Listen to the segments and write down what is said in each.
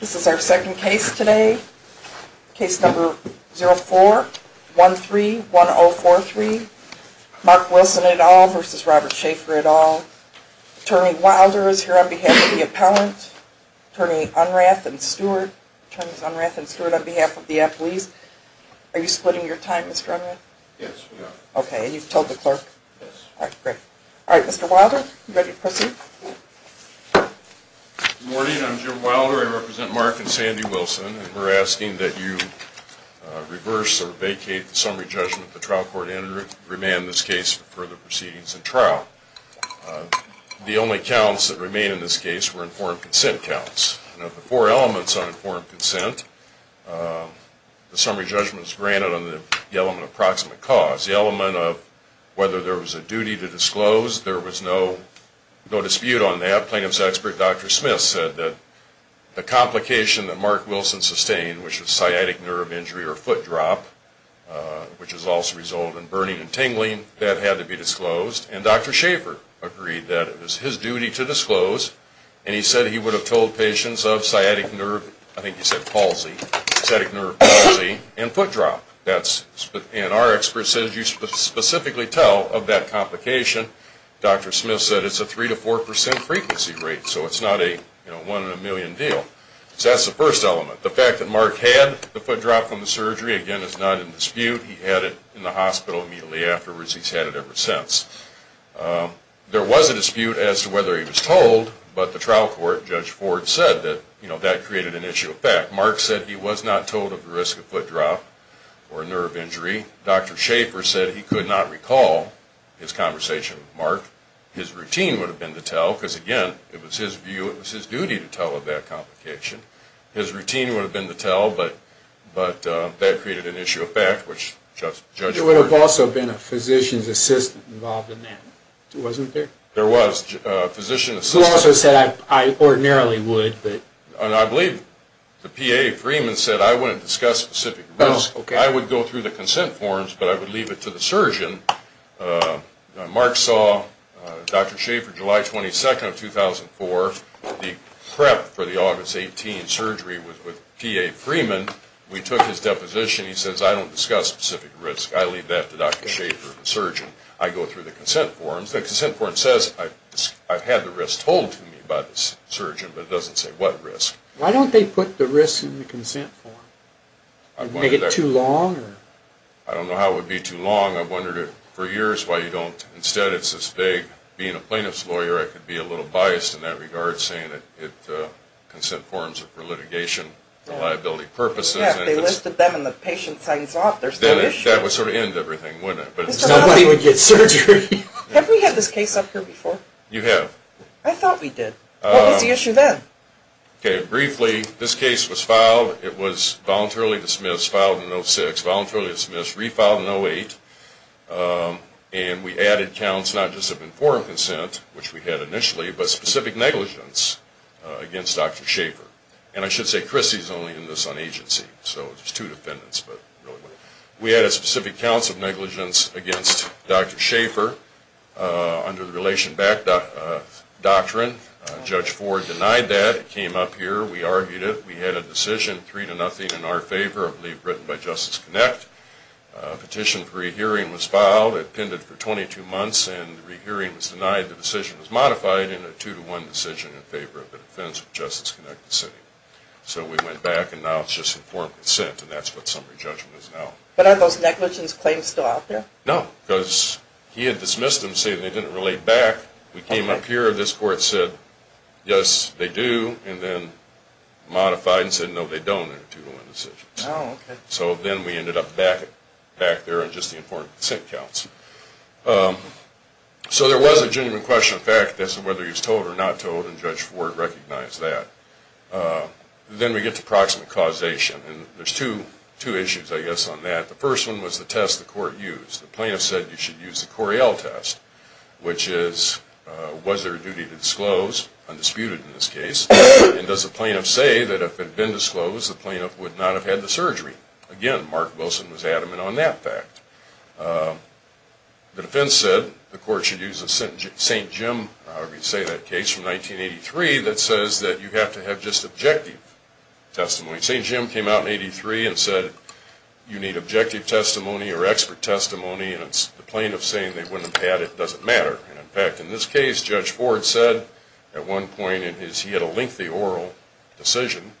This is our second case today. Case number 04131043. Mark Wilson et al. v. Robert Schaefer et al. Attorney Wilder is here on behalf of the appellant. Attorney Unrath and Stewart. Attorney Unrath and Stewart on behalf of the athletes. Are you splitting your time, Mr. Unrath? Yes, we are. Okay, and you've told the clerk? Yes. All right, great. All right, Mr. Wilder, you ready to proceed? Good morning. I'm Jim Wilder. I represent Mark and Sandy Wilson. We're asking that you reverse or vacate the summary judgment the trial court entered, remain in this case for further proceedings and trial. The only counts that remain in this case were informed consent counts. Of the four elements on informed consent, the summary judgment is granted on the element of proximate cause. The element of whether there was a duty to disclose. There was no dispute on that. Plaintiff's expert, Dr. Smith, said that the complication that Mark Wilson sustained, which was sciatic nerve injury or foot drop, which has also resulted in burning and tingling, that had to be disclosed. And Dr. Schaefer agreed that it was his duty to disclose. And he said he would have told patients of sciatic nerve, I think he said palsy, sciatic nerve palsy and foot drop. And our expert said you specifically tell of that complication. Dr. Smith said it's a three to four percent frequency rate, so it's not a one in a million deal. So that's the first element. The fact that Mark had the foot drop from the surgery, again, is not in dispute. He had it in the hospital immediately afterwards. He's had it ever since. There was a dispute as to whether he was told, but the trial court, Judge Ford, said that that created an issue of fact. Mark said he was not told of the risk of foot drop or nerve injury. Dr. Schaefer said he could not recall his conversation with Mark. His routine would have been to tell, because, again, it was his view, it was his duty to tell of that complication. His routine would have been to tell, but that created an issue of fact, which Judge Ford... There would have also been a physician's assistant involved in that, wasn't there? There was a physician's assistant. He also said, I ordinarily would, but... I believe the PA, Freeman, said, I wouldn't discuss specific risk. I would go through the consent forms, but I would leave it to the surgeon. Mark saw Dr. Schaefer, July 22nd of 2004, the prep for the August 18 surgery with PA Freeman. We took his deposition. He says, I don't discuss specific risk. I leave that to Dr. Schaefer, the surgeon. I go through the consent forms. The consent form says, I've had the risk told to me by the surgeon, but it doesn't say what risk. Why don't they put the risk in the consent form? Make it too long? I don't know how it would be too long. I've wondered for years why you don't. Instead, it's as vague. Being a plaintiff's lawyer, I could be a little biased in that regard, saying that consent forms are for litigation, for liability purposes. Yeah, if they listed them and the patient signs off, there's no issue. That would sort of end everything, wouldn't it? Nobody would get surgery. Have we had this case up here before? You have. I thought we did. What was the issue then? Briefly, this case was filed. It was voluntarily dismissed, filed in 06, voluntarily dismissed, refiled in 08. And we added counts, not just of informed consent, which we had initially, but specific negligence against Dr. Schaefer. And I should say, Chrissy's only in this on agency, so there's two defendants. We added specific counts of negligence against Dr. Schaefer under the Relation Back Doctrine. Judge Ford denied that. It came up here. We argued it. We had a decision, three to nothing, in our favor, I believe written by Justice Connect. A petition for a re-hearing was filed. It appended for 22 months, and the re-hearing was denied. The decision was modified in a two-to-one decision in favor of the defense of Justice Connect. So we went back, and now it's just informed consent, and that's what summary judgment is now. But are those negligence claims still out there? No, because he had dismissed them, saying they didn't relate back. We came up here, and this court said, yes, they do, and then modified and said, no, they don't, in a two-to-one decision. Oh, okay. So then we ended up back there on just the informed consent counts. So there was a genuine question of fact as to whether he was told or not told, and Judge Ford recognized that. Then we get to proximate causation, and there's two issues, I guess, on that. The first one was the test the court used. The plaintiff said you should use the Coriell test, which is, was there a duty to disclose, undisputed in this case, and does the plaintiff say that if it had been disclosed, the plaintiff would not have had the surgery? Again, Mark Wilson was adamant on that fact. The defense said the court should use a St. Jim, however you say that case, from 1983, that says that you have to have just objective testimony. St. Jim came out in 83 and said you need objective testimony or expert testimony, and it's the plaintiff saying they wouldn't have had it doesn't matter. In fact, in this case, Judge Ford said at one point in his, he had a lengthy oral decision.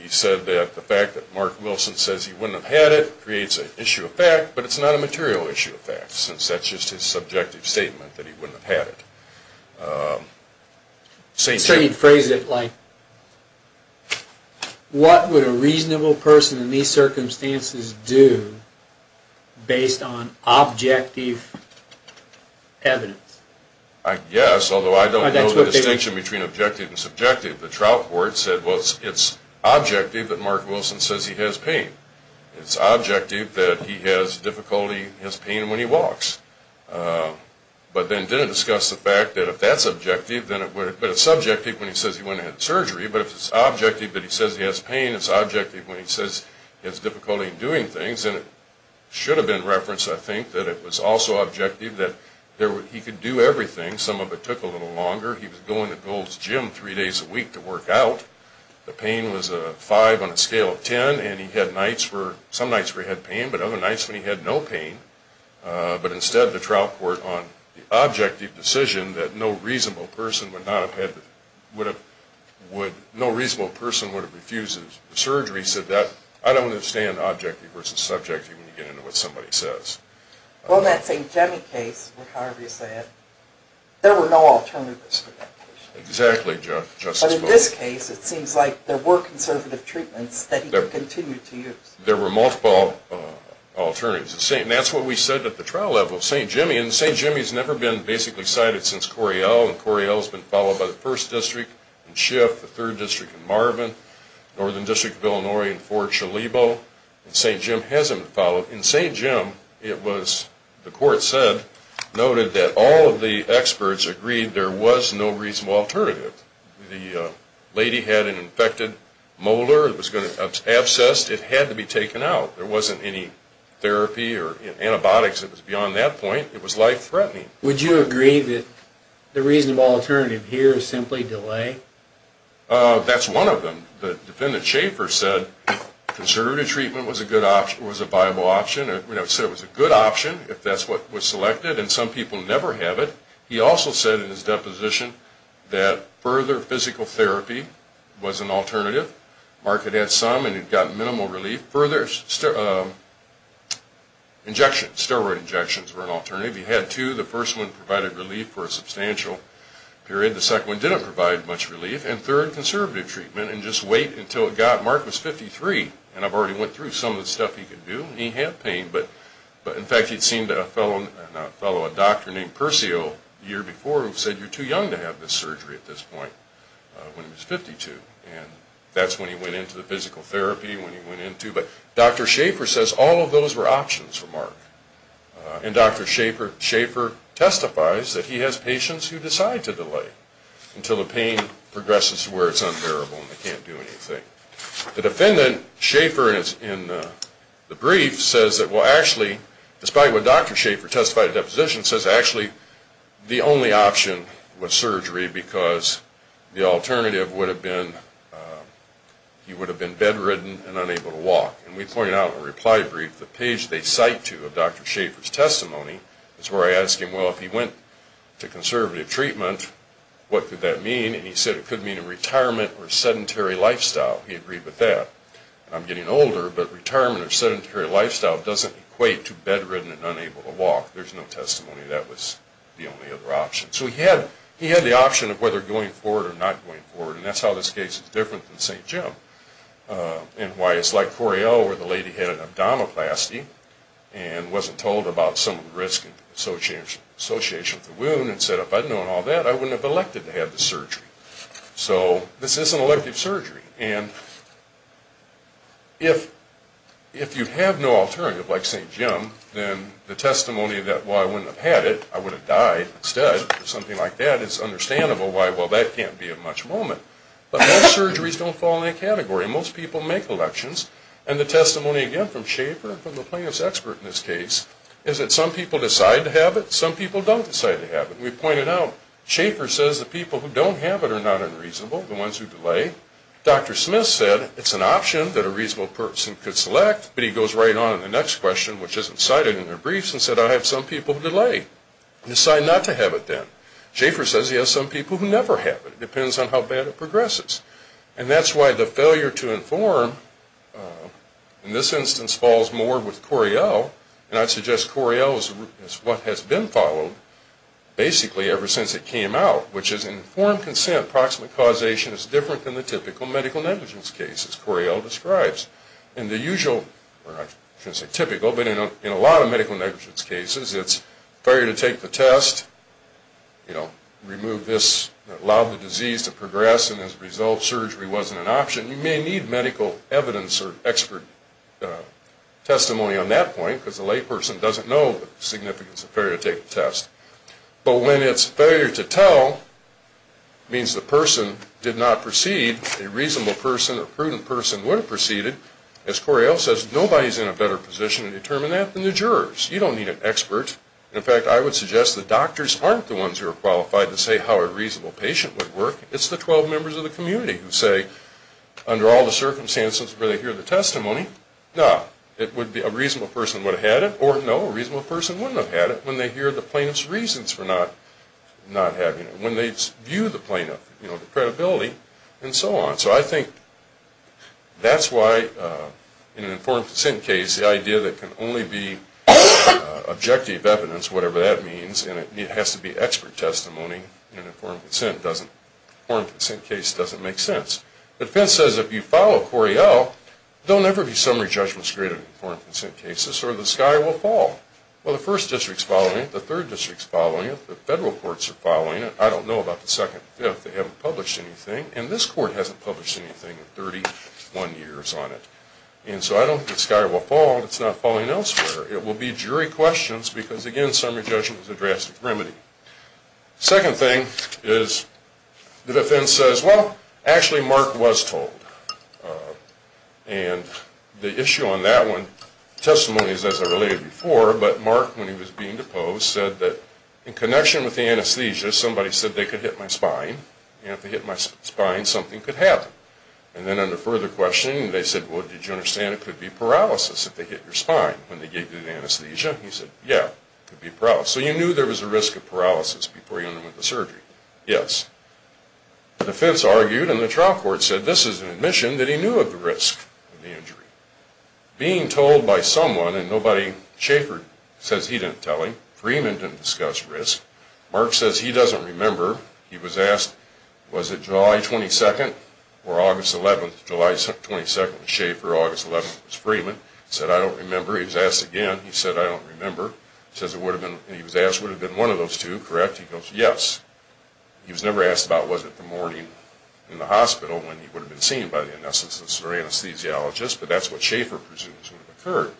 He said that the fact that Mark Wilson says he wouldn't have had it creates an issue of fact, but it's not a material issue of fact, since that's just his subjective statement that he wouldn't have had it. St. Jim phrased it like, what would a reasonable person in these circumstances do based on objective evidence? I guess, although I don't know the distinction between objective and subjective. The trial court said, well, it's objective that Mark Wilson says he has pain. It's objective that he has difficulty, has pain when he walks. But then did it discuss the fact that if that's objective, then it would have, but it's subjective when he says he wouldn't have had surgery, but if it's objective that he says he has pain, it's objective when he says he has difficulty in doing things, and it should have been referenced, I think, that it was also objective that he could do everything. Some of it took a little longer. He was going to Gold's gym three days a week to work out. The pain was a 5 on a scale of 10, and he had nights where, some nights where he had pain, but other nights when he had no pain. But instead, the trial court, on the objective decision that no reasonable person would not have had, would have, would, no reasonable person would have refused the surgery, said that I don't understand objective versus subjective when you get into what somebody says. Well, in that St. Jimmy case, what Harvey said, there were no alternatives. Exactly. But in this case, it seems like there were conservative treatments that he could continue to use. There were multiple alternatives. And that's what we said at the trial level, St. Jimmy, and St. Jimmy's never been basically cited since Coryell, and Coryell's been followed by the 1st District and Schiff, the 3rd District and Marvin, Northern District of Illinois and Fort Chalibo, and St. Jim hasn't been followed. Well, in St. Jim, it was, the court said, noted that all of the experts agreed there was no reasonable alternative. The lady had an infected molar that was going to abscess. It had to be taken out. There wasn't any therapy or antibiotics that was beyond that point. It was life-threatening. Would you agree that the reasonable alternative here is simply delay? That's one of them. The defendant, Schaffer, said conservative treatment was a viable option. He said it was a good option if that's what was selected, and some people never have it. He also said in his deposition that further physical therapy was an alternative. Mark had had some, and he'd gotten minimal relief. Further injections, steroid injections, were an alternative. He had two. The first one provided relief for a substantial period. The second one didn't provide much relief. And third, conservative treatment, and just wait until it got. Mark was 53, and I've already went through some of the stuff he could do. He had pain, but, in fact, he'd seen a fellow, not fellow, a doctor named Percio the year before who said you're too young to have this surgery at this point when he was 52. And that's when he went into the physical therapy, when he went into. But Dr. Schaffer says all of those were options for Mark. And Dr. Schaffer testifies that he has patients who decide to delay until the pain progresses to where it's unbearable and they can't do anything. The defendant, Schaffer, in the brief says that, well, actually, despite what Dr. Schaffer testified in the deposition, says actually the only option was surgery because the alternative would have been he would have been bedridden and unable to walk. And we pointed out in the reply brief the page they cite to of Dr. Schaffer's testimony is where I ask him, well, if he went to conservative treatment, what could that mean? And he said it could mean a retirement or sedentary lifestyle. He agreed with that. I'm getting older, but retirement or sedentary lifestyle doesn't equate to bedridden and unable to walk. There's no testimony that was the only other option. So he had the option of whether going forward or not going forward, and that's how this case is different than St. Jim. And why it's like Coryell where the lady had an abdominoplasty and wasn't told about some of the risks associated with the wound and said if I'd known all that, I wouldn't have elected to have the surgery. So this is an elective surgery. And if you have no alternative like St. Jim, then the testimony that, well, I wouldn't have had it, I would have died instead or something like that, is understandable why, well, that can't be a much moment. But most surgeries don't fall in that category. Most people make elections. And the testimony, again, from Schaefer, from the plaintiff's expert in this case, is that some people decide to have it, some people don't decide to have it. We pointed out Schaefer says the people who don't have it are not unreasonable, the ones who delay. Dr. Smith said it's an option that a reasonable person could select, but he goes right on in the next question, which isn't cited in the briefs, and said I have some people who delay and decide not to have it then. Schaefer says he has some people who never have it. It depends on how bad it progresses. And that's why the failure to inform in this instance falls more with Coriell, and I suggest Coriell is what has been followed basically ever since it came out, which is informed consent, approximate causation, is different than the typical medical negligence cases Coriell describes. In the usual, or I shouldn't say typical, but in a lot of medical negligence cases, it's fair to take the test, you know, remove this, allow the disease to progress, and as a result surgery wasn't an option. You may need medical evidence or expert testimony on that point because the layperson doesn't know the significance of fair to take the test. But when it's a failure to tell, it means the person did not proceed, a reasonable person or prudent person would have proceeded. As Coriell says, nobody's in a better position to determine that than the jurors. You don't need an expert. In fact, I would suggest the doctors aren't the ones who are qualified to say how a reasonable patient would work. It's the 12 members of the community who say, under all the circumstances where they hear the testimony, no, it would be a reasonable person would have had it, or no, a reasonable person wouldn't have had it, when they hear the plaintiff's reasons for not having it, when they view the plaintiff, you know, the credibility, and so on. So I think that's why in an informed consent case, the idea that can only be objective evidence, whatever that means, and it has to be expert testimony in an informed consent case doesn't make sense. The defense says if you follow Coriell, there'll never be summary judgments created in informed consent cases, or the sky will fall. Well, the first district's following it, the third district's following it, the federal courts are following it. I don't know about the second and fifth. They haven't published anything. And this court hasn't published anything in 31 years on it. And so I don't think the sky will fall if it's not falling elsewhere. It will be jury questions because, again, summary judgments are drastic remedy. Second thing is the defense says, well, actually Mark was told. And the issue on that one, testimony is as I related before, but Mark, when he was being deposed, said that in connection with the anesthesia, somebody said they could hit my spine, and if they hit my spine, something could happen. And then under further questioning, they said, well, did you understand, it could be paralysis if they hit your spine when they gave you the anesthesia? He said, yeah, it could be paralysis. So you knew there was a risk of paralysis before you went into surgery? Yes. The defense argued, and the trial court said this is an admission that he knew of the risk of the injury. Being told by someone, and nobody, Schaefer says he didn't tell him, Freeman didn't discuss risk, Mark says he doesn't remember, he was asked, was it July 22nd or August 11th? July 22nd was Schaefer, August 11th was Freeman. He said, I don't remember. He was asked again. He said, I don't remember. He was asked, would it have been one of those two, correct? He goes, yes. He was never asked about was it the morning in the hospital when he would have been seen by the anesthesiologist, but that's what Schaefer presumes would have occurred.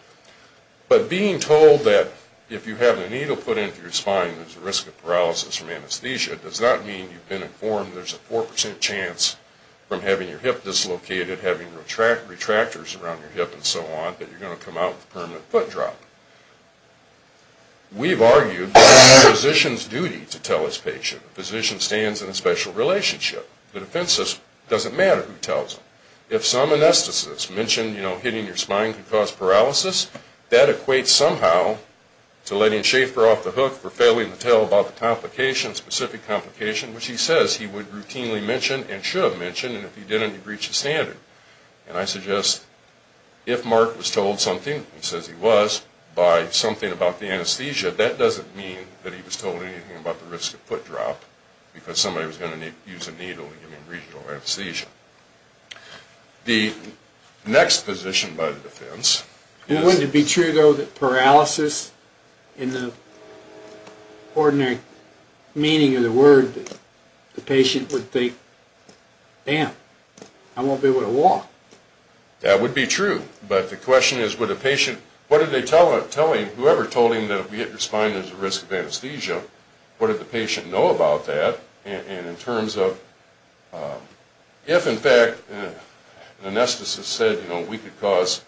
But being told that if you have a needle put into your spine, there's a risk of paralysis from anesthesia, does not mean you've been informed there's a 4% chance from having your hip dislocated, having retractors around your hip and so on, that you're going to come out with permanent foot drop. We've argued that it's the physician's duty to tell his patient. The physician stands in a special relationship. The defense says it doesn't matter who tells him. If some anesthetist mentioned, you know, hitting your spine could cause paralysis, that equates somehow to letting Schaefer off the hook for failing to tell about the complication, specific complication, which he says he would routinely mention and should have mentioned, and if he didn't, he breached the standard. And I suggest if Mark was told something, he says he was, by something about the anesthesia, that doesn't mean that he was told anything about the risk of foot drop because somebody was going to use a needle and give him regional anesthesia. The next position by the defense is... Wouldn't it be true, though, that paralysis, in the ordinary meaning of the word, the patient would think, damn, I won't be able to walk. That would be true, but the question is would a patient, what did they tell him, whoever told him that if he hit your spine there's a risk of anesthesia, what did the patient know about that? And in terms of... If, in fact, an anesthetist said, you know, we could cause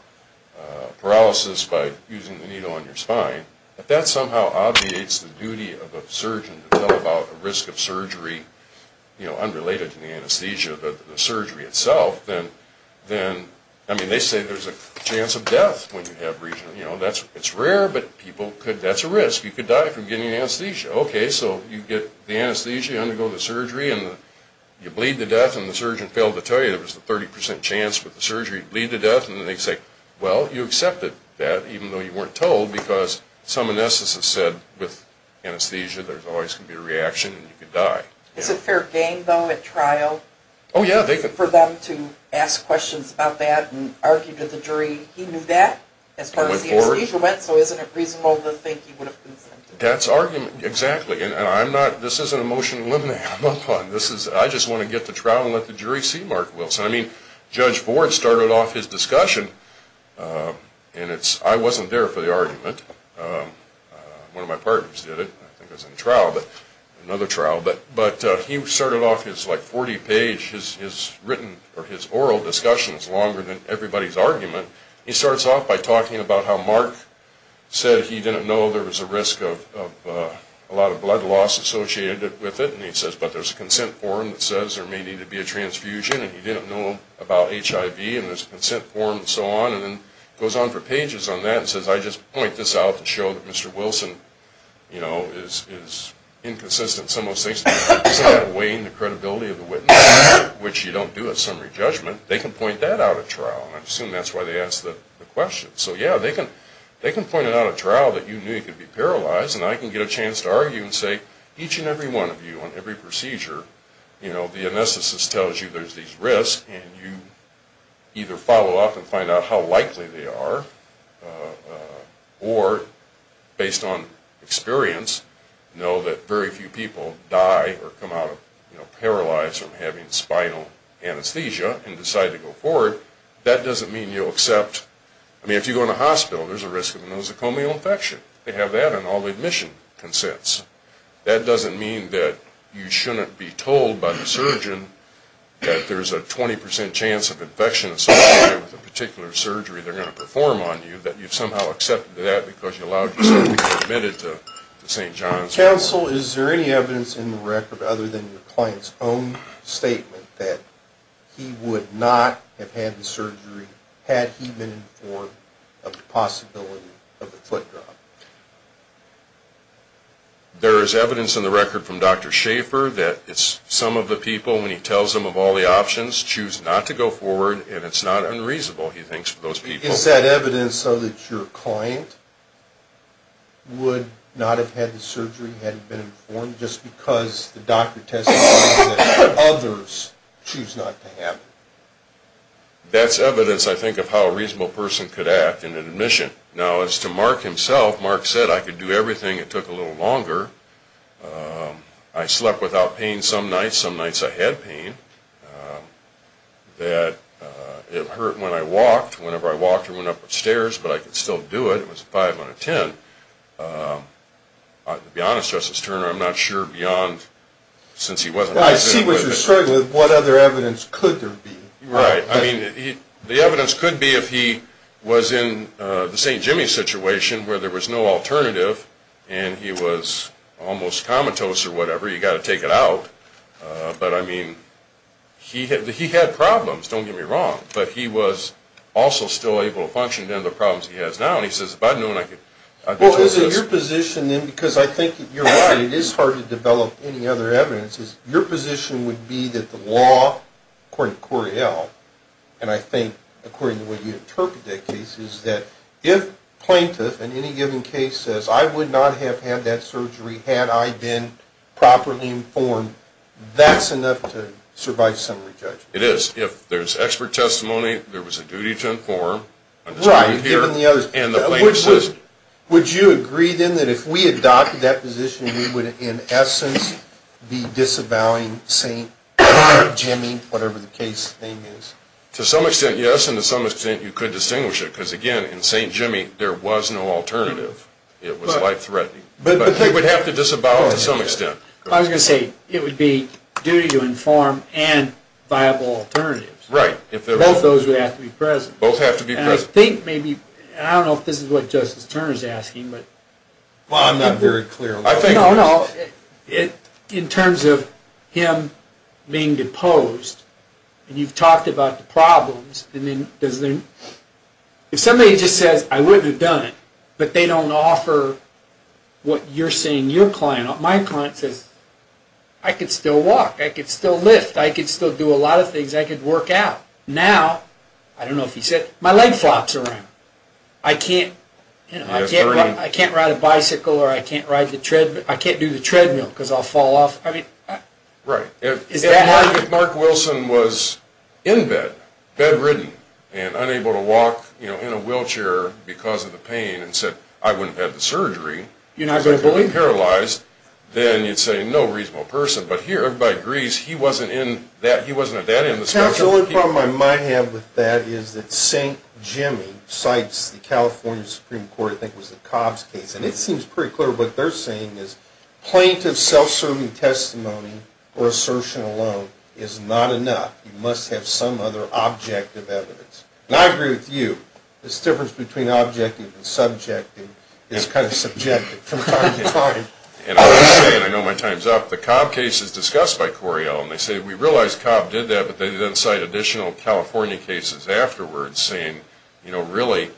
paralysis by using the needle on your spine, if that somehow obviates the duty of a surgeon to tell about the risk of surgery, you know, unrelated to the anesthesia, the surgery itself, then, I mean, they say there's a chance of death when you have regional, you know, it's rare, but people could, that's a risk. You could die from getting anesthesia. Okay, so you get the anesthesia, you undergo the surgery, and you bleed to death, and the surgeon failed to tell you there was a 30% chance with the surgery you'd bleed to death, and they say, well, you accepted that even though you weren't told because some anesthetists said with anesthesia there's always going to be a reaction and you could die. Is it fair game, though, at trial? Oh, yeah, they could... For them to ask questions about that and argue to the jury, he knew that as far as the anesthesia went, so isn't it reasonable to think he would have been sentenced? That's argument, exactly, and I'm not, this isn't a motion to eliminate, I just want to get to trial and let the jury see Mark Wilson. I mean, Judge Ford started off his discussion, and it's, I wasn't there for the argument, one of my partners did it, I think it was in trial, another trial, but he started off his, like, 40-page, his oral discussion is longer than everybody's argument. He starts off by talking about how Mark, said he didn't know there was a risk of a lot of blood loss associated with it, and he says, but there's a consent form that says there may need to be a transfusion, and he didn't know about HIV, and there's a consent form, and so on, and then goes on for pages on that, and says, I just point this out to show that Mr. Wilson, you know, is inconsistent in some of those things, but instead of weighing the credibility of the witness, which you don't do at summary judgment, they can point that out at trial, and I assume that's why they asked the question. So yeah, they can point it out at trial that you knew you could be paralyzed, and I can get a chance to argue and say, each and every one of you, on every procedure, you know, the anesthetist tells you there's these risks, and you either follow up and find out how likely they are, or, based on experience, know that very few people die or come out of, you know, paralyzed from having spinal anesthesia, and decide to go forward. That may be the case. That doesn't mean you'll accept, I mean, if you go in a hospital, there's a risk of a nosocomial infection. They have that on all admission consents. That doesn't mean that you shouldn't be told by the surgeon that there's a 20% chance of infection associated with a particular surgery they're going to perform on you, that you've somehow accepted that because you allowed yourself to get admitted to St. John's. Counsel, is there any evidence in the record, other than your client's own statement, that he would not have had the surgery had he been informed of the possibility of a foot drop? There is evidence in the record from Dr. Schaffer that some of the people, when he tells them of all the options, choose not to go forward, and it's not unreasonable, he thinks, for those people. Is that evidence so that your client would not have had the surgery had he been informed, just because the doctor testified that others choose not to have it? That's evidence, I think, of how a reasonable person could act in an admission. Now, as to Mark himself, Mark said, I could do everything, it took a little longer, I slept without pain some nights, some nights I had pain, that it hurt when I walked, whenever I walked I went up the stairs, but I could still do it, it was a 5 out of 10. To be honest, Justice Turner, I'm not sure beyond, since he wasn't... I see what you're saying, what other evidence could there be? The evidence could be if he was in the St. Jimmy's situation, where there was no alternative, and he was almost comatose or whatever, you've got to take it out, but I mean, he had problems, don't get me wrong, but he was also still able to function, and the problems he has now, and he says, if I'd known I could... Well, is it your position then, because I think you're right, it is hard to develop any other evidence, is your position would be that the law, according to Cory L., and I think according to the way you interpret that case, is that if plaintiff in any given case says, I would not have had that surgery had I been properly informed, that's enough to survive summary judgment. It is, if there's expert testimony, there was a duty to inform... Would you agree then that if we adopted that position, we would in essence be disavowing St. Jimmy, whatever the case name is? To some extent, yes, and to some extent you could distinguish it, because again, in St. Jimmy there was no alternative, it was life-threatening. But you would have to disavow it to some extent. I was going to say, it would be duty to inform and viable alternatives. Both of those would have to be present. I don't know if this is what Justice Turner is asking, I'm not very clear on that. In terms of him being deposed, and you've talked about the problems, if somebody just says, I wouldn't have done it, but they don't offer what you're saying your client... My client says, I could still walk, I could still lift, I could still do a lot of things, I could work out. Now, I don't know if he said, my leg flops around. I can't ride a bicycle, I can't do the treadmill because I'll fall off. Right. If Mark Wilson was in bed, bedridden, and unable to walk in a wheelchair because of the pain, and said, I wouldn't have had the surgery, and paralyzed, then you'd say, no reasonable person. But here, everybody agrees, he wasn't at that end of the spectrum. The only problem I might have with that is that St. Jimmy cites the California Supreme Court, I think it was the Cobbs case, and it seems pretty clear what they're saying is, plaintiff self-serving testimony or assertion alone is not enough. You must have some other objective evidence. And I agree with you, this difference between objecting and subjecting is kind of subjective from time to time. And I will say, and I know my time's up, the Cobbs case is discussed by Cory Ellum. They say, we realize Cobbs did that, but they then cite additional California cases afterwards, saying, you know, really,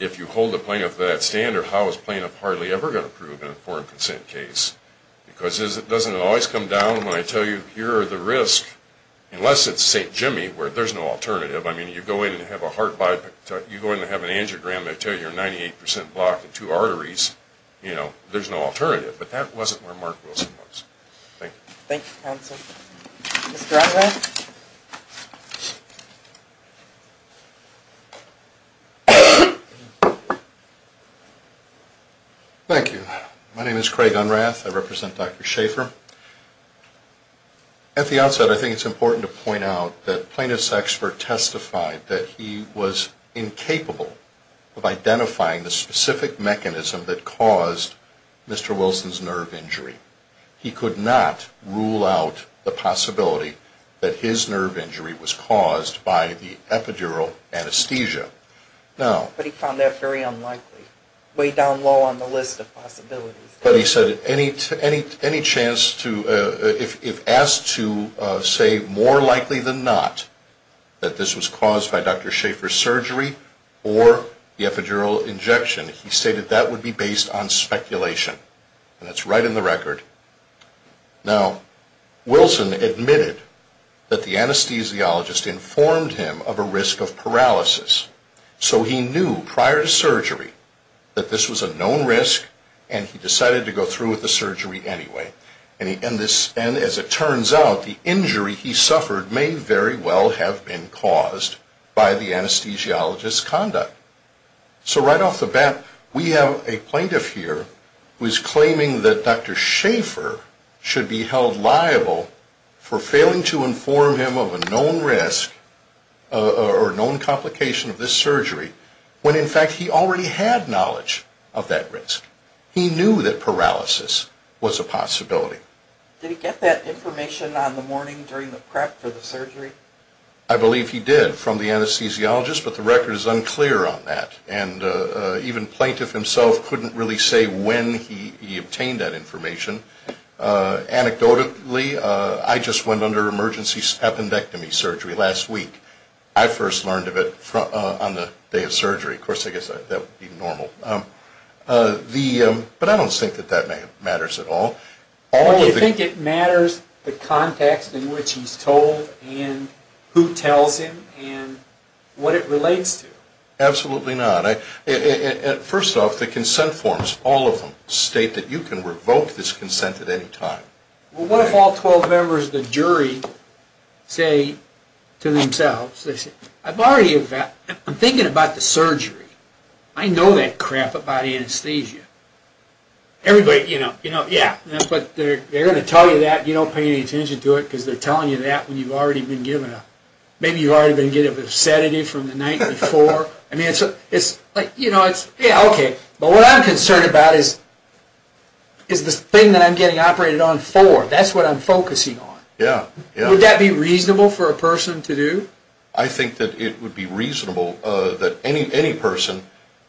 if you hold a plaintiff to that standard, how is plaintiff hardly ever going to prove in a foreign consent case? Because it doesn't always come down when I tell you, here are the risks, unless it's St. Jimmy, where there's no alternative. I mean, you go in and have a heart bypass, you go in and have an angiogram, they tell you you're 98 percent blocked and two arteries, you know, there's no alternative. But that wasn't where Mark Wilson was. Thank you. Thank you, counsel. Mr. Unrath? Thank you. My name is Craig Unrath. I represent Dr. Schaefer. At the outset, I think it's important to point out that plaintiff's expert testified that he was incapable of identifying the specific mechanism that caused Mr. Wilson's nerve injury. that he had caused Mr. Wilson's nerve injury. that his nerve injury was caused by the epidural anesthesia. But he found that very unlikely, way down low on the list of possibilities. But he said any chance to, if asked to say more likely than not that this was caused by Dr. Schaefer's surgery or the epidural injection, he stated that would be based on speculation. And that's right in the record. Now, Wilson admitted that the anesthesiologist informed him of a risk of paralysis. So he knew prior to surgery that this was a known risk and he decided to go through with the surgery anyway. And as it turns out, the injury he suffered may very well have been caused by the anesthesiologist's conduct. So right off the bat, we have a plaintiff here who is claiming that Dr. Schaefer should be held liable for failing to inform him of a known risk or a known complication of this surgery when in fact he already had knowledge of that risk. He knew that paralysis was a possibility. Did he get that information on the morning during the prep for the surgery? I believe he did from the anesthesiologist but the record is unclear on that. And even plaintiff himself couldn't really say when he obtained that information. Anecdotally, I just went under emergency appendectomy surgery last week. I first learned of it on the day of surgery. Of course, I guess that would be normal. But I don't think that that matters at all. Do you think it matters the context in which he's told and who tells him and what it relates to? Absolutely not. First off, the consent forms, all of them, state that you can revoke this consent at any time. Well, what if all 12 members of the jury say to themselves, I'm thinking about the surgery. I know that crap about anesthesia. Everybody, you know, yeah. But they're going to tell you that and you don't pay any attention to it because they're telling you that when you've already been given a sedative from the night before. But what I'm concerned about is the thing that I'm getting operated on for. That's what I'm focusing on. Would that be reasonable for a person to do? I think that it would be reasonable that any person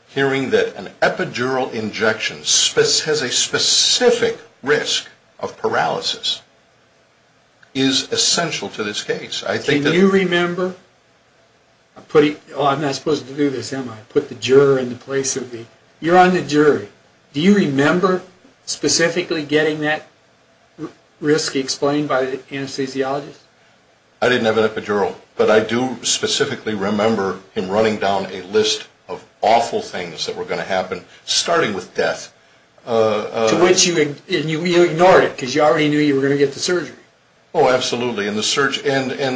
hearing that an epidural injection has a specific risk of paralysis is essential to this case. Can you remember? Oh, I'm not supposed to do this, am I? Put the juror in the place of the... You're on the jury. Do you remember specifically getting that risk explained by the anesthesiologist? I didn't have an epidural, but I do specifically remember him running down a list of awful things that were going to happen, starting with death. To which you ignored it because you already knew you were going to get the surgery. Oh, absolutely. And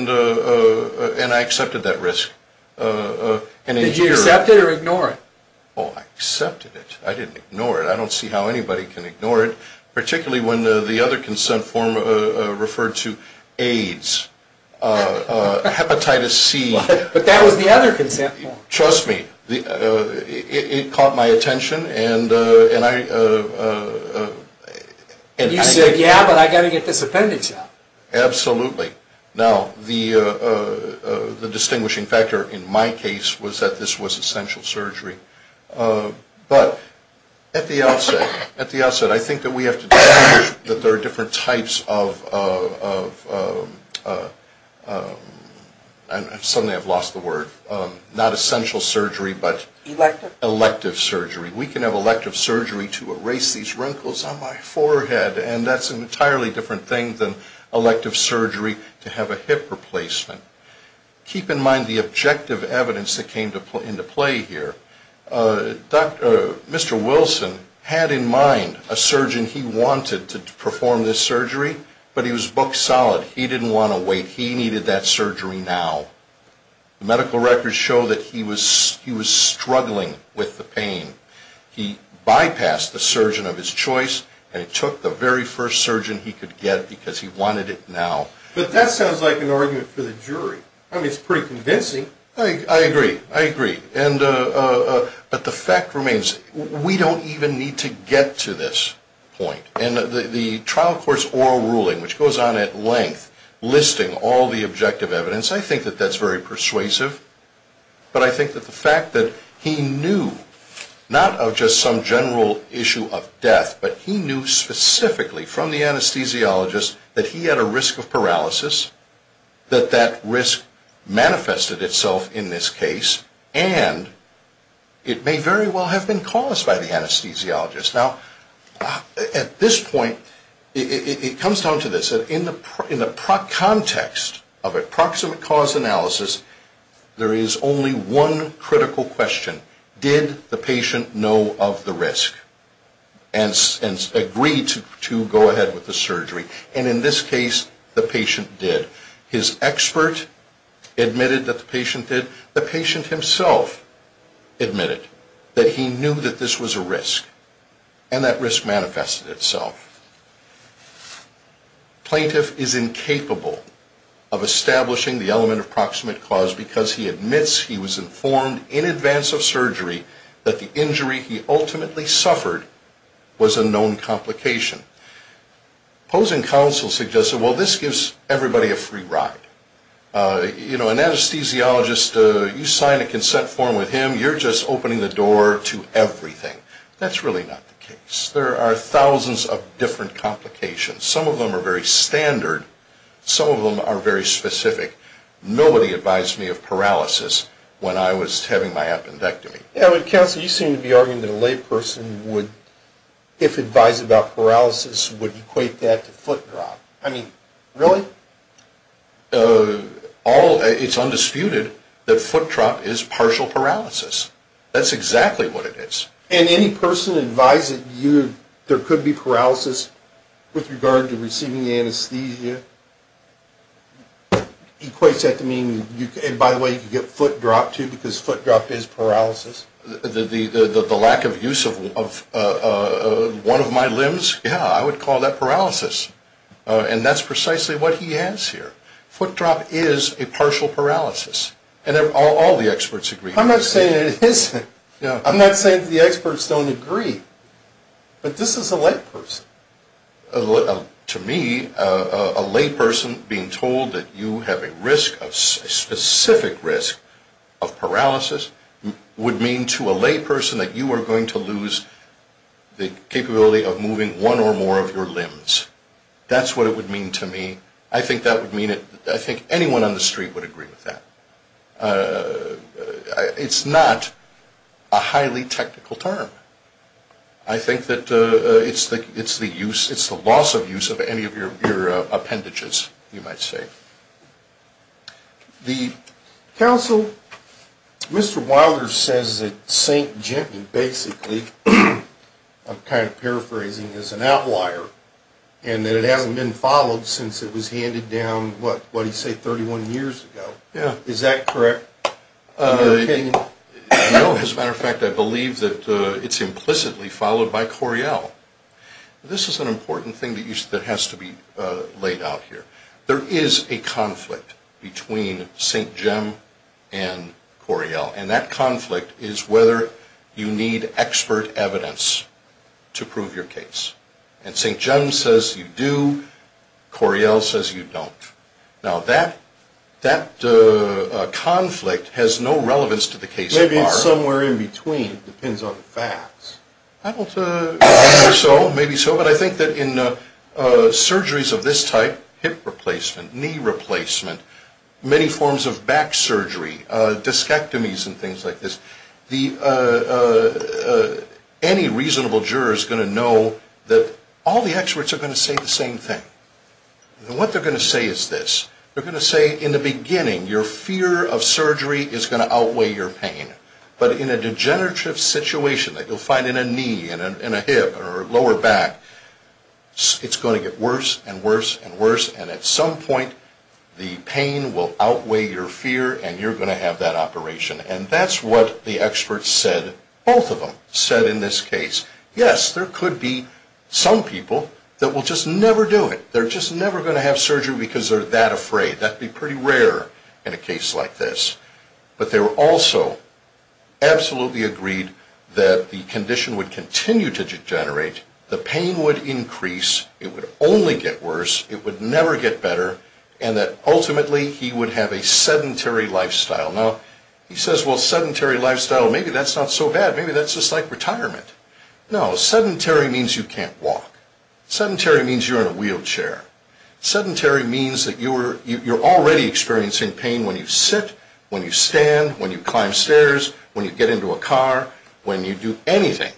I accepted that risk. Did you accept it or ignore it? Oh, I accepted it. I didn't ignore it. I don't see how anybody can ignore it, particularly when the other consent form referred to AIDS. Hepatitis C. But that was the other consent form. Trust me, it caught my attention and I... And you said, yeah, but I've got to get this appendage out. Absolutely. Now, the distinguishing factor in my case was that this was essential surgery. But at the outset, I think that we have to distinguish that there are different types of... Suddenly I've lost the word. Not essential surgery, but elective surgery. We can have elective surgery to erase these wrinkles on my forehead and that's an entirely different thing than elective surgery to have a hip replacement. Keep in mind the objective evidence that came into play here. Mr. Wilson had in mind a surgeon he wanted to perform this surgery, but he was booked solid. He didn't want to wait. He needed that surgery now. Medical records show that he was struggling with the pain. He bypassed the surgeon of his choice and took the very first surgeon he could get because he wanted it now. But that sounds like an argument for the jury. I mean, it's pretty convincing. I agree. I agree. But the fact remains, we don't even need to get to this point. And the trial court's oral ruling, which goes on at length, listing all the objective evidence, I think that that's very persuasive. But I think that the fact that he knew not of just some general issue of death, but he knew specifically from the anesthesiologist that he had a risk of paralysis, that that risk manifested itself in this case, and it may very well have been caused by the anesthesiologist. Now, at this point, it comes down to this. In the context of a proximate cause analysis, there is only one critical question. Did the patient know of the risk and agree to go ahead with the surgery? And in this case, the patient did. His expert admitted that the patient did. The patient himself admitted that he knew that this was a risk and that risk manifested itself. Plaintiff is incapable of establishing the element of proximate cause because he admits he was informed in advance of surgery that the injury he ultimately suffered was a known complication. Opposing counsel suggested, well, this gives everybody a free ride. You know, an anesthesiologist, you sign a consent form with him, you're just opening the door to everything. That's really not the case. There are thousands of different complications. Some of them are very standard. Some of them are very specific. Nobody advised me of paralysis when I was having my appendectomy. Counsel, you seem to be arguing that a layperson would, if advised about paralysis, would equate that to foot drop. I mean, really? It's undisputed that foot drop is partial paralysis. That's exactly what it is. And any person advised that there could be paralysis with regard to receiving anesthesia, equates that to meaning, and by the way, you could get foot drop, too, because foot drop is paralysis? The lack of use of one of my limbs? Yeah, I would call that paralysis. And that's precisely what he has here. Foot drop is a partial paralysis. And all the experts agree. I'm not saying it isn't. I'm not saying the experts don't agree. But this is a layperson. To me, a layperson being told that you have a risk, a specific risk of paralysis, would mean to a layperson that you are going to lose the capability of moving one or more of your limbs. That's what it would mean to me. I think anyone on the street would agree with that. It's not a highly technical term. I think that it's the loss of use of any of your appendages, you might say. The counsel, Mr. Wilder, says that St. Jimmy, basically, I'm kind of paraphrasing, is an outlier. And that it hasn't been followed since it was handed down, what did he say, 31 years ago. Is that correct? No, as a matter of fact, I believe that it's implicitly followed by Coryell. This is an important thing that has to be laid out here. There is a conflict between St. Jim and Coryell. And that conflict is whether you need expert evidence to prove your case. And St. Jim says you do, Coryell says you don't. Now, that conflict has no relevance to the case. Maybe it's somewhere in between. It depends on the facts. Maybe so, but I think that in surgeries of this type, hip replacement, knee replacement, many forms of back surgery, discectomies and things like this, any reasonable juror is going to know that all the experts are going to say the same thing. And what they're going to say is this. They're going to say, in the beginning, your fear of surgery is going to outweigh your pain. But in a degenerative situation that you'll find in a knee and a hip or a lower back, it's going to get worse and worse and worse. And at some point, the pain will outweigh your fear and you're going to have that operation. And that's what the experts said, both of them, said in this case. Yes, there could be some people that will just never do it. They're just never going to have surgery because they're that afraid. That would be pretty rare in a case like this. But they also absolutely agreed that the condition would continue to degenerate, the pain would increase, it would only get worse, it would never get better, and that ultimately he would have a sedentary lifestyle. Now, he says, well, sedentary lifestyle, maybe that's not so bad. Maybe that's just like retirement. No, sedentary means you can't walk. Sedentary means you're in a wheelchair. Sedentary means that you're already experiencing pain when you sit, when you stand, when you climb stairs, when you get into a car, when you do anything.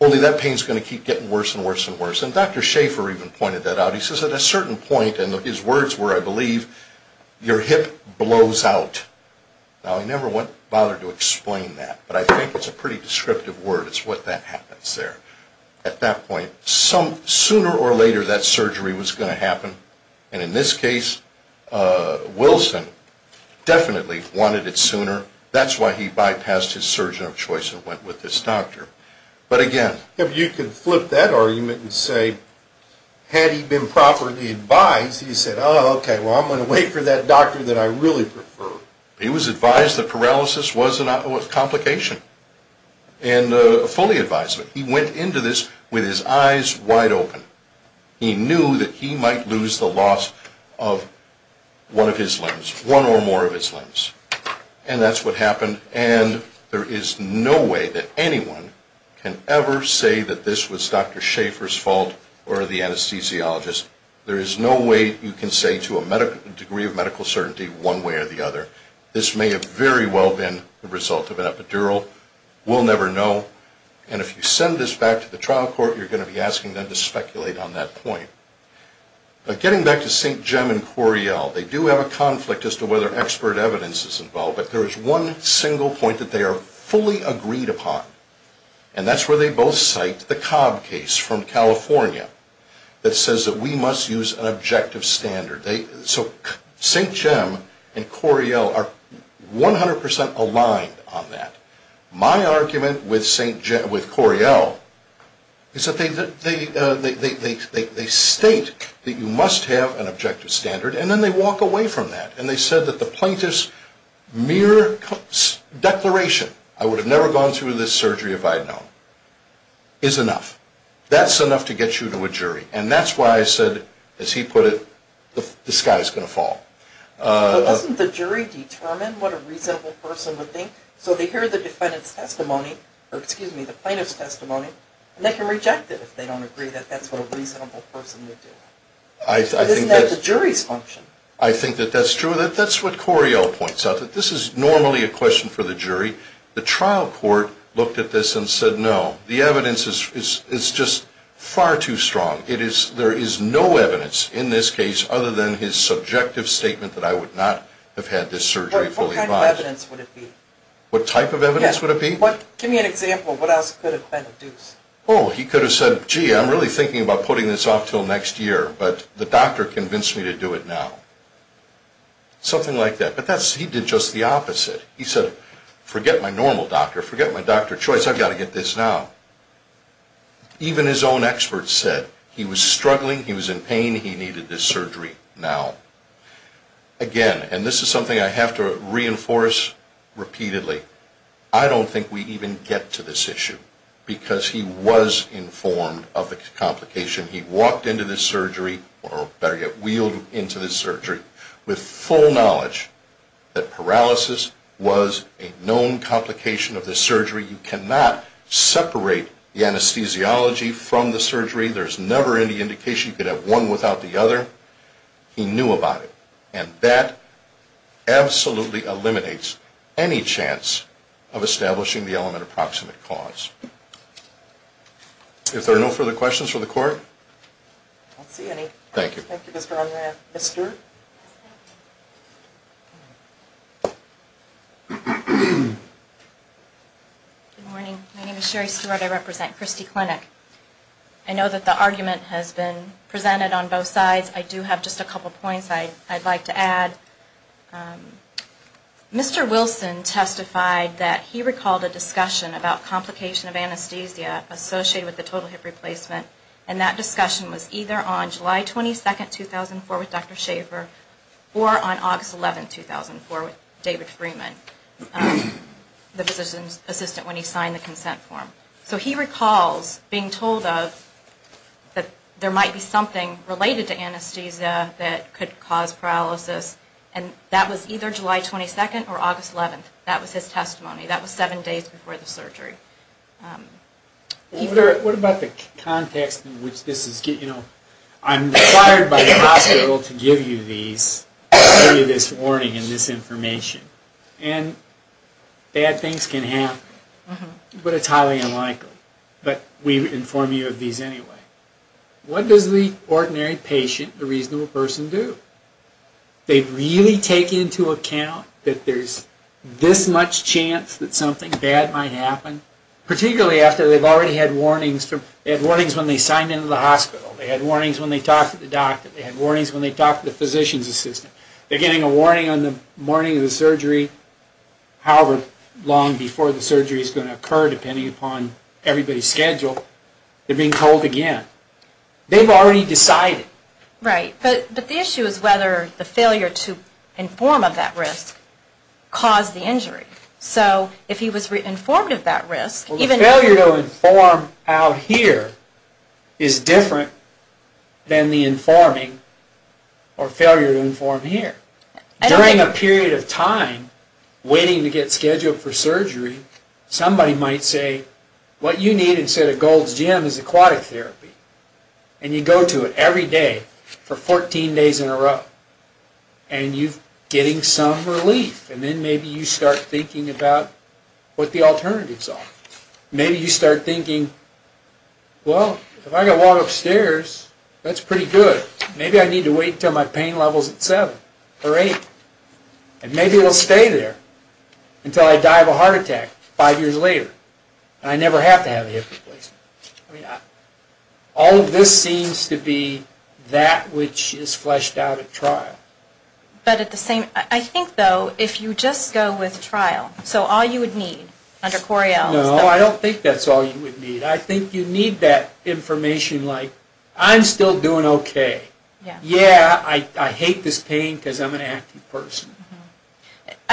Only that pain's going to keep getting worse and worse and worse. And Dr. Schaefer even pointed that out. He says at a certain point, and his words were, I believe, your hip blows out. Now, I never bothered to explain that, but I think it's a pretty descriptive word is what that happens there. At that point, sooner or later that surgery was going to happen, and in this case, Wilson definitely wanted it sooner. That's why he bypassed his surgeon of choice and went with this doctor. But again... If you could flip that argument and say, had he been properly advised, he said, oh, okay, well, I'm going to wait for that doctor that I really prefer. He was advised that paralysis was a complication. And fully advised. He went into this with his eyes wide open. He knew that he might lose the loss of one of his limbs, one or more of his limbs. And that's what happened. And there is no way that anyone can ever say that this was Dr. Schaefer's fault or the anesthesiologist. There is no way you can say to a degree of medical certainty one way or the other. This may have very well been the result of an epidural. We'll never know. And if you send this back to the trial court, you're going to be asking them to speculate on that point. But getting back to St. Jem and Coriel, they do have a conflict as to whether expert evidence is involved. But there is one single point that they are fully agreed upon. And that's where they both cite the Cobb case from California that says that we must use an objective standard. So St. Jem and Coriel are 100% aligned on that. My argument with Coriel is that they see a state that you must have an objective standard and then they walk away from that. And they said that the plaintiff's mere declaration I would have never gone through this surgery if I had known is enough. That's enough to get you to a jury. And that's why I said, as he put it, the sky is going to fall. But doesn't the jury determine what a reasonable person would think? So they hear the plaintiff's testimony and they can reject it if they don't agree that that's what a reasonable person would do. Isn't that the jury's function? I think that that's true. That's what Coriel points out. This is normally a question for the jury. The trial court looked at this and said no. The evidence is just far too strong. There is no evidence in this case other than his subjective statement that I would not have had this surgery fully advised. What type of evidence would it be? Give me an example of what else could have been induced. He could have said, gee, I'm really thinking about putting this off until next year, but the doctor convinced me to do it now. Something like that. But he did just the opposite. He said, forget my normal doctor, forget my doctor choice, I've got to get this now. Even his own experts said he was struggling, he was in pain, he needed this surgery now. Again, and this is something I have to reinforce repeatedly, I don't think we even get to this issue because he was informed of the complication. He walked into this surgery, or better yet, wheeled into this surgery with full knowledge that paralysis was a known complication of this surgery. You cannot separate the anesthesiology from the surgery. There's never any indication you could have one without the other. He knew about it. And that absolutely eliminates any chance of establishing the element of proximate cause. If there are no further questions from the court? I don't see any. Thank you. Thank you, Mr. O'Mara. Ms. Stewart? Good morning. My name is Sherry Stewart. I represent Christie Clinic. I know that the argument has been presented on both sides. I do have just a couple points I'd like to add. Mr. Wilson testified that he recalled a discussion about complication of anesthesia associated with the total hip replacement. And that discussion was either on July 22, 2004 with Dr. Schaffer or on August 11, 2004 with David Freeman, the physician's assistant when he signed the consent form. So he recalls being told that there might be something related to anesthesia that could cause paralysis. And that was either July 22 or August 11. That was his testimony. That was seven days before the surgery. What about the context in which this is? I'm required by the hospital to give you this warning and this information. And bad things can happen. But it's highly unlikely. But we inform you of these anyway. What does the ordinary patient, the reasonable person, do? They really take into account that there's this much chance that something bad might happen? Particularly after they've already had warnings when they signed into the hospital. They had warnings when they talked to the doctor. They had warnings when they talked to the physician's assistant. They're getting a warning on the morning of the surgery. However long before the surgery is going to occur depending upon everybody's schedule. They're being told again. They've already decided. Right. But the issue is whether the failure to inform of that risk caused the injury. So if he was informed of that risk... The failure to inform out here is different than the informing or failure to inform here. During a period of time waiting to get scheduled for surgery, somebody might say what you need instead of Gold's Gym is aquatic therapy. And you go to it every day for 14 days in a row. And you're getting some relief. And then maybe you start thinking about what the alternatives are. Maybe you start thinking well if I can walk upstairs that's pretty good. Maybe I need to wait until my pain level is at 7 or 8. And maybe it'll stay there until I die of a heart attack five years later. And I never have to have a hip replacement. All of this seems to be that which is fleshed out at trial. But at the same... I think though if you just go with trial. So all you would need under Coriell... No, I don't think that's all you would need. I think you need that information like I'm still doing okay. Yeah, I hate this pain because I'm an active person.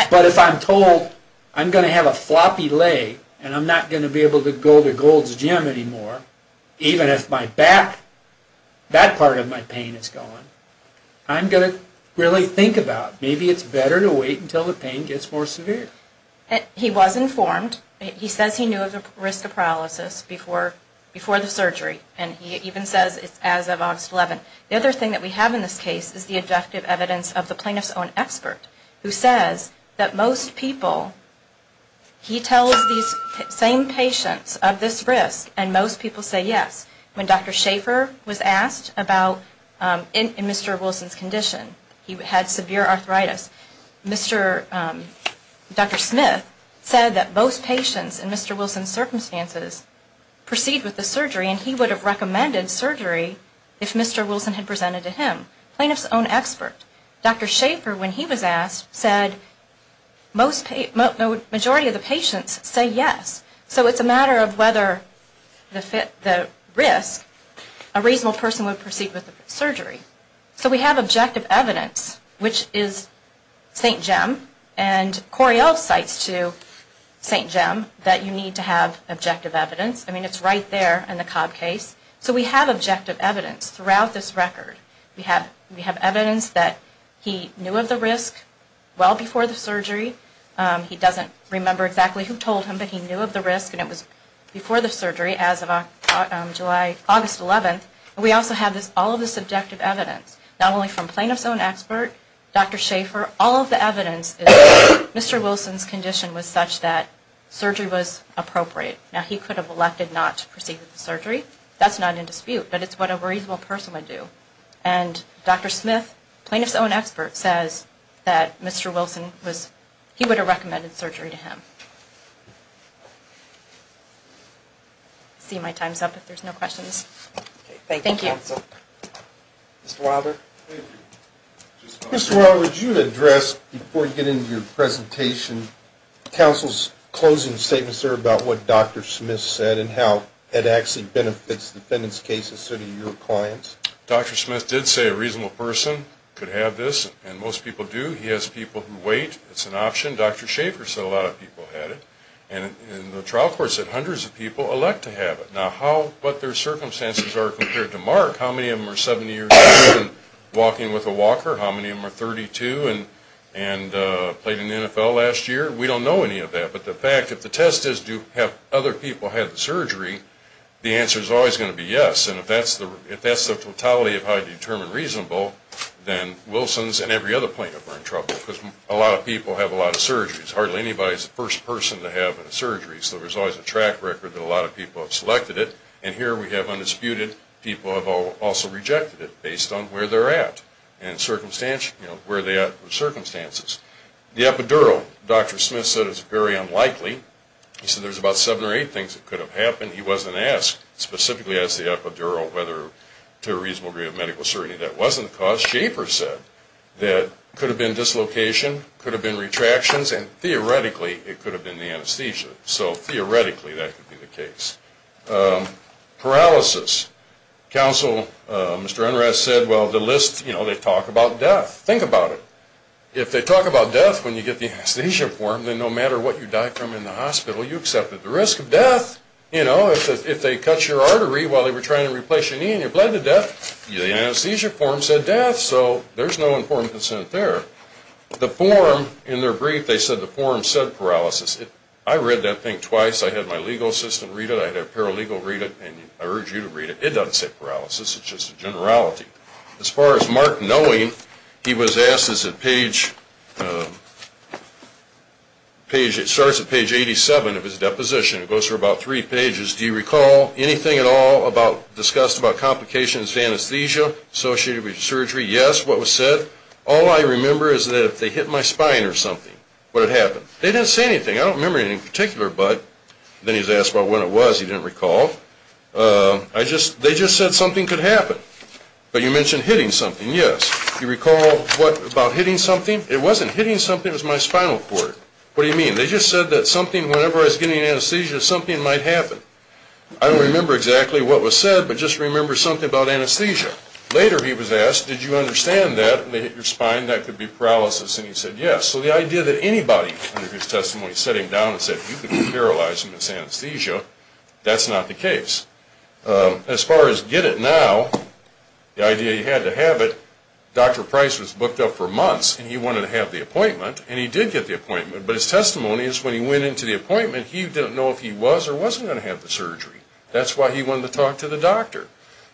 But if I'm told I'm going to have a floppy leg and I'm not going to be able to go to Gold's Gym anymore even if that part of my pain is gone I'm going to really think about maybe it's better to wait until the pain gets more severe. He was informed. He says he knew of the risk of paralysis before the surgery. And he even says it's as of August 11. The other thing that we have in this case is the objective evidence of the plaintiff's own expert who says that most people... All of these same patients of this risk and most people say yes. When Dr. Schaefer was asked about... In Mr. Wilson's condition, he had severe arthritis. Dr. Smith said that most patients in Mr. Wilson's circumstances proceed with the surgery and he would have recommended surgery if Mr. Wilson had presented to him, the plaintiff's own expert. Dr. Schaefer when he was asked said that the majority of the patients say yes. So it's a matter of whether the risk a reasonable person would proceed with the surgery. So we have objective evidence which is St. Jem and Corey else cites to St. Jem that you need to have objective evidence. I mean it's right there in the Cobb case. So we have objective evidence throughout this record. We have evidence that he knew of the risk well before the surgery. He doesn't remember exactly who told him but he knew of the risk and it was before the surgery as of August 11th. We also have all of this objective evidence not only from plaintiff's own expert, Dr. Schaefer all of the evidence is that Mr. Wilson's condition was such that surgery was appropriate. Now he could have elected not to proceed with the surgery. That's not in dispute but it's what a reasonable person would do. And Dr. Smith, plaintiff's own expert says that Mr. Wilson was, he would have recommended surgery to him. I see my time's up if there's no questions. Thank you. Mr. Wilder. Mr. Wilder would you address before you get into your presentation counsel's closing statements there about what Dr. Smith said and how it actually benefits defendants cases so do your clients? Dr. Smith did say a reasonable person could have this and most people do. He has people who wait. It's an option. Dr. Schaefer said a lot of people had it. And the trial court said hundreds of people elect to have it. Now how, what their circumstances are compared to Mark. How many of them are 70 years old and walking with a walker? How many of them are 32 and played in the NFL last year? We don't know any of that. But the fact, if the test is do other people have the surgery the answer is always going to be yes. And if that's the totality of how you determine reasonable then Wilson's and every other plaintiff are in trouble because a lot of people have a lot of surgeries. Hardly anybody is the first person to have a surgery so there's always a track record that a lot of people have selected it and here we have undisputed. People have also rejected it based on where they're at and circumstances. The epidural, Dr. Smith said is very unlikely. He said there's about seven or eight things that could have happened. He wasn't asked specifically as to the epidural whether to a reasonable degree of medical certainty that wasn't the cause. Dr. Schaefer said that could have been dislocation, could have been retractions, and theoretically it could have been the anesthesia. So theoretically that could be the case. Paralysis. Counsel, Mr. Enrath said, well the list, you know, they talk about death. Think about it. If they talk about death when you get the anesthesia form then no matter what you died from in the hospital you accepted the risk of death. You know, if they cut your artery while they were trying to replace your knee and you bled to death, the anesthesia form said death. So there's no informed consent there. The form, in their brief, they said the form said paralysis. I read that thing twice. I had my legal assistant read it, I had a paralegal read it, and I urge you to read it. It doesn't say paralysis, it's just a generality. As far as Mark knowing, he was asked, it starts at page 87 of his deposition. It goes through about three pages. Do you recall anything at all discussed about complications of anesthesia associated with surgery? Yes, what was said. All I remember is that if they hit my spine or something, what had happened. They didn't say anything. I don't remember anything in particular, but then he's asked about when it was. He didn't recall. They just said something could happen. But you mentioned hitting something, yes. Do you recall what about hitting something? It wasn't hitting something, it was my spinal cord. What do you mean? They just said that something, whenever I was getting anesthesia, something might happen. I don't remember exactly what was said, but just remember something about anesthesia. Later he was asked, did you understand that when they hit your spine that could be paralysis, and he said yes. So the idea that anybody under his testimony set him down and said you could be paralyzed and miss anesthesia, that's not the case. As far as get it now, the idea you had to have it, Dr. Price was booked up for months, and he wanted to have the appointment, and he did get the appointment. But his testimony is when he went into the appointment, he didn't know if he was or wasn't going to have the surgery. That's why he wanted to talk to the doctor.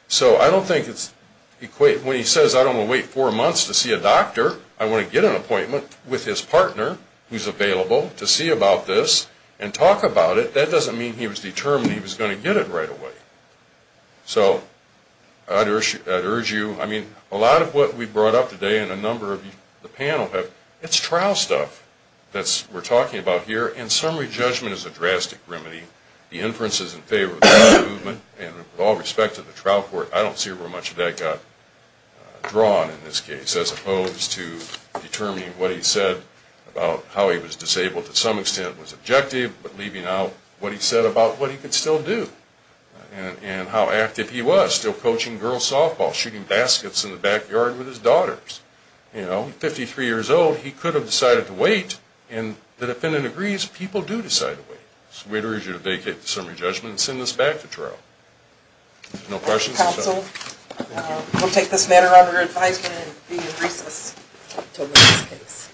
So when he says I don't want to wait four months to see a doctor, I want to get an appointment with his partner who's available to see about this and talk about it, that doesn't mean he was determined he was going to get it right away. So I'd urge you, I mean, a lot of what we brought up today and a number of the panel have, it's trial stuff that we're talking about here, and summary judgment is a drastic remedy. and with all respect to that, I don't see where much of that got drawn in this case, as opposed to determining what he said about how he was disabled to some extent was objective, but leaving out what he said about what he could still do and how active he was, still coaching girls softball, shooting baskets in the backyard with his daughters. You know, 53 years old, he could have decided to wait, and the defendant agrees people do decide to wait. So we'd urge you to vacate the summary judgment and send this back to trial. No questions? We'll take this matter under advisement and be in recess until the next case.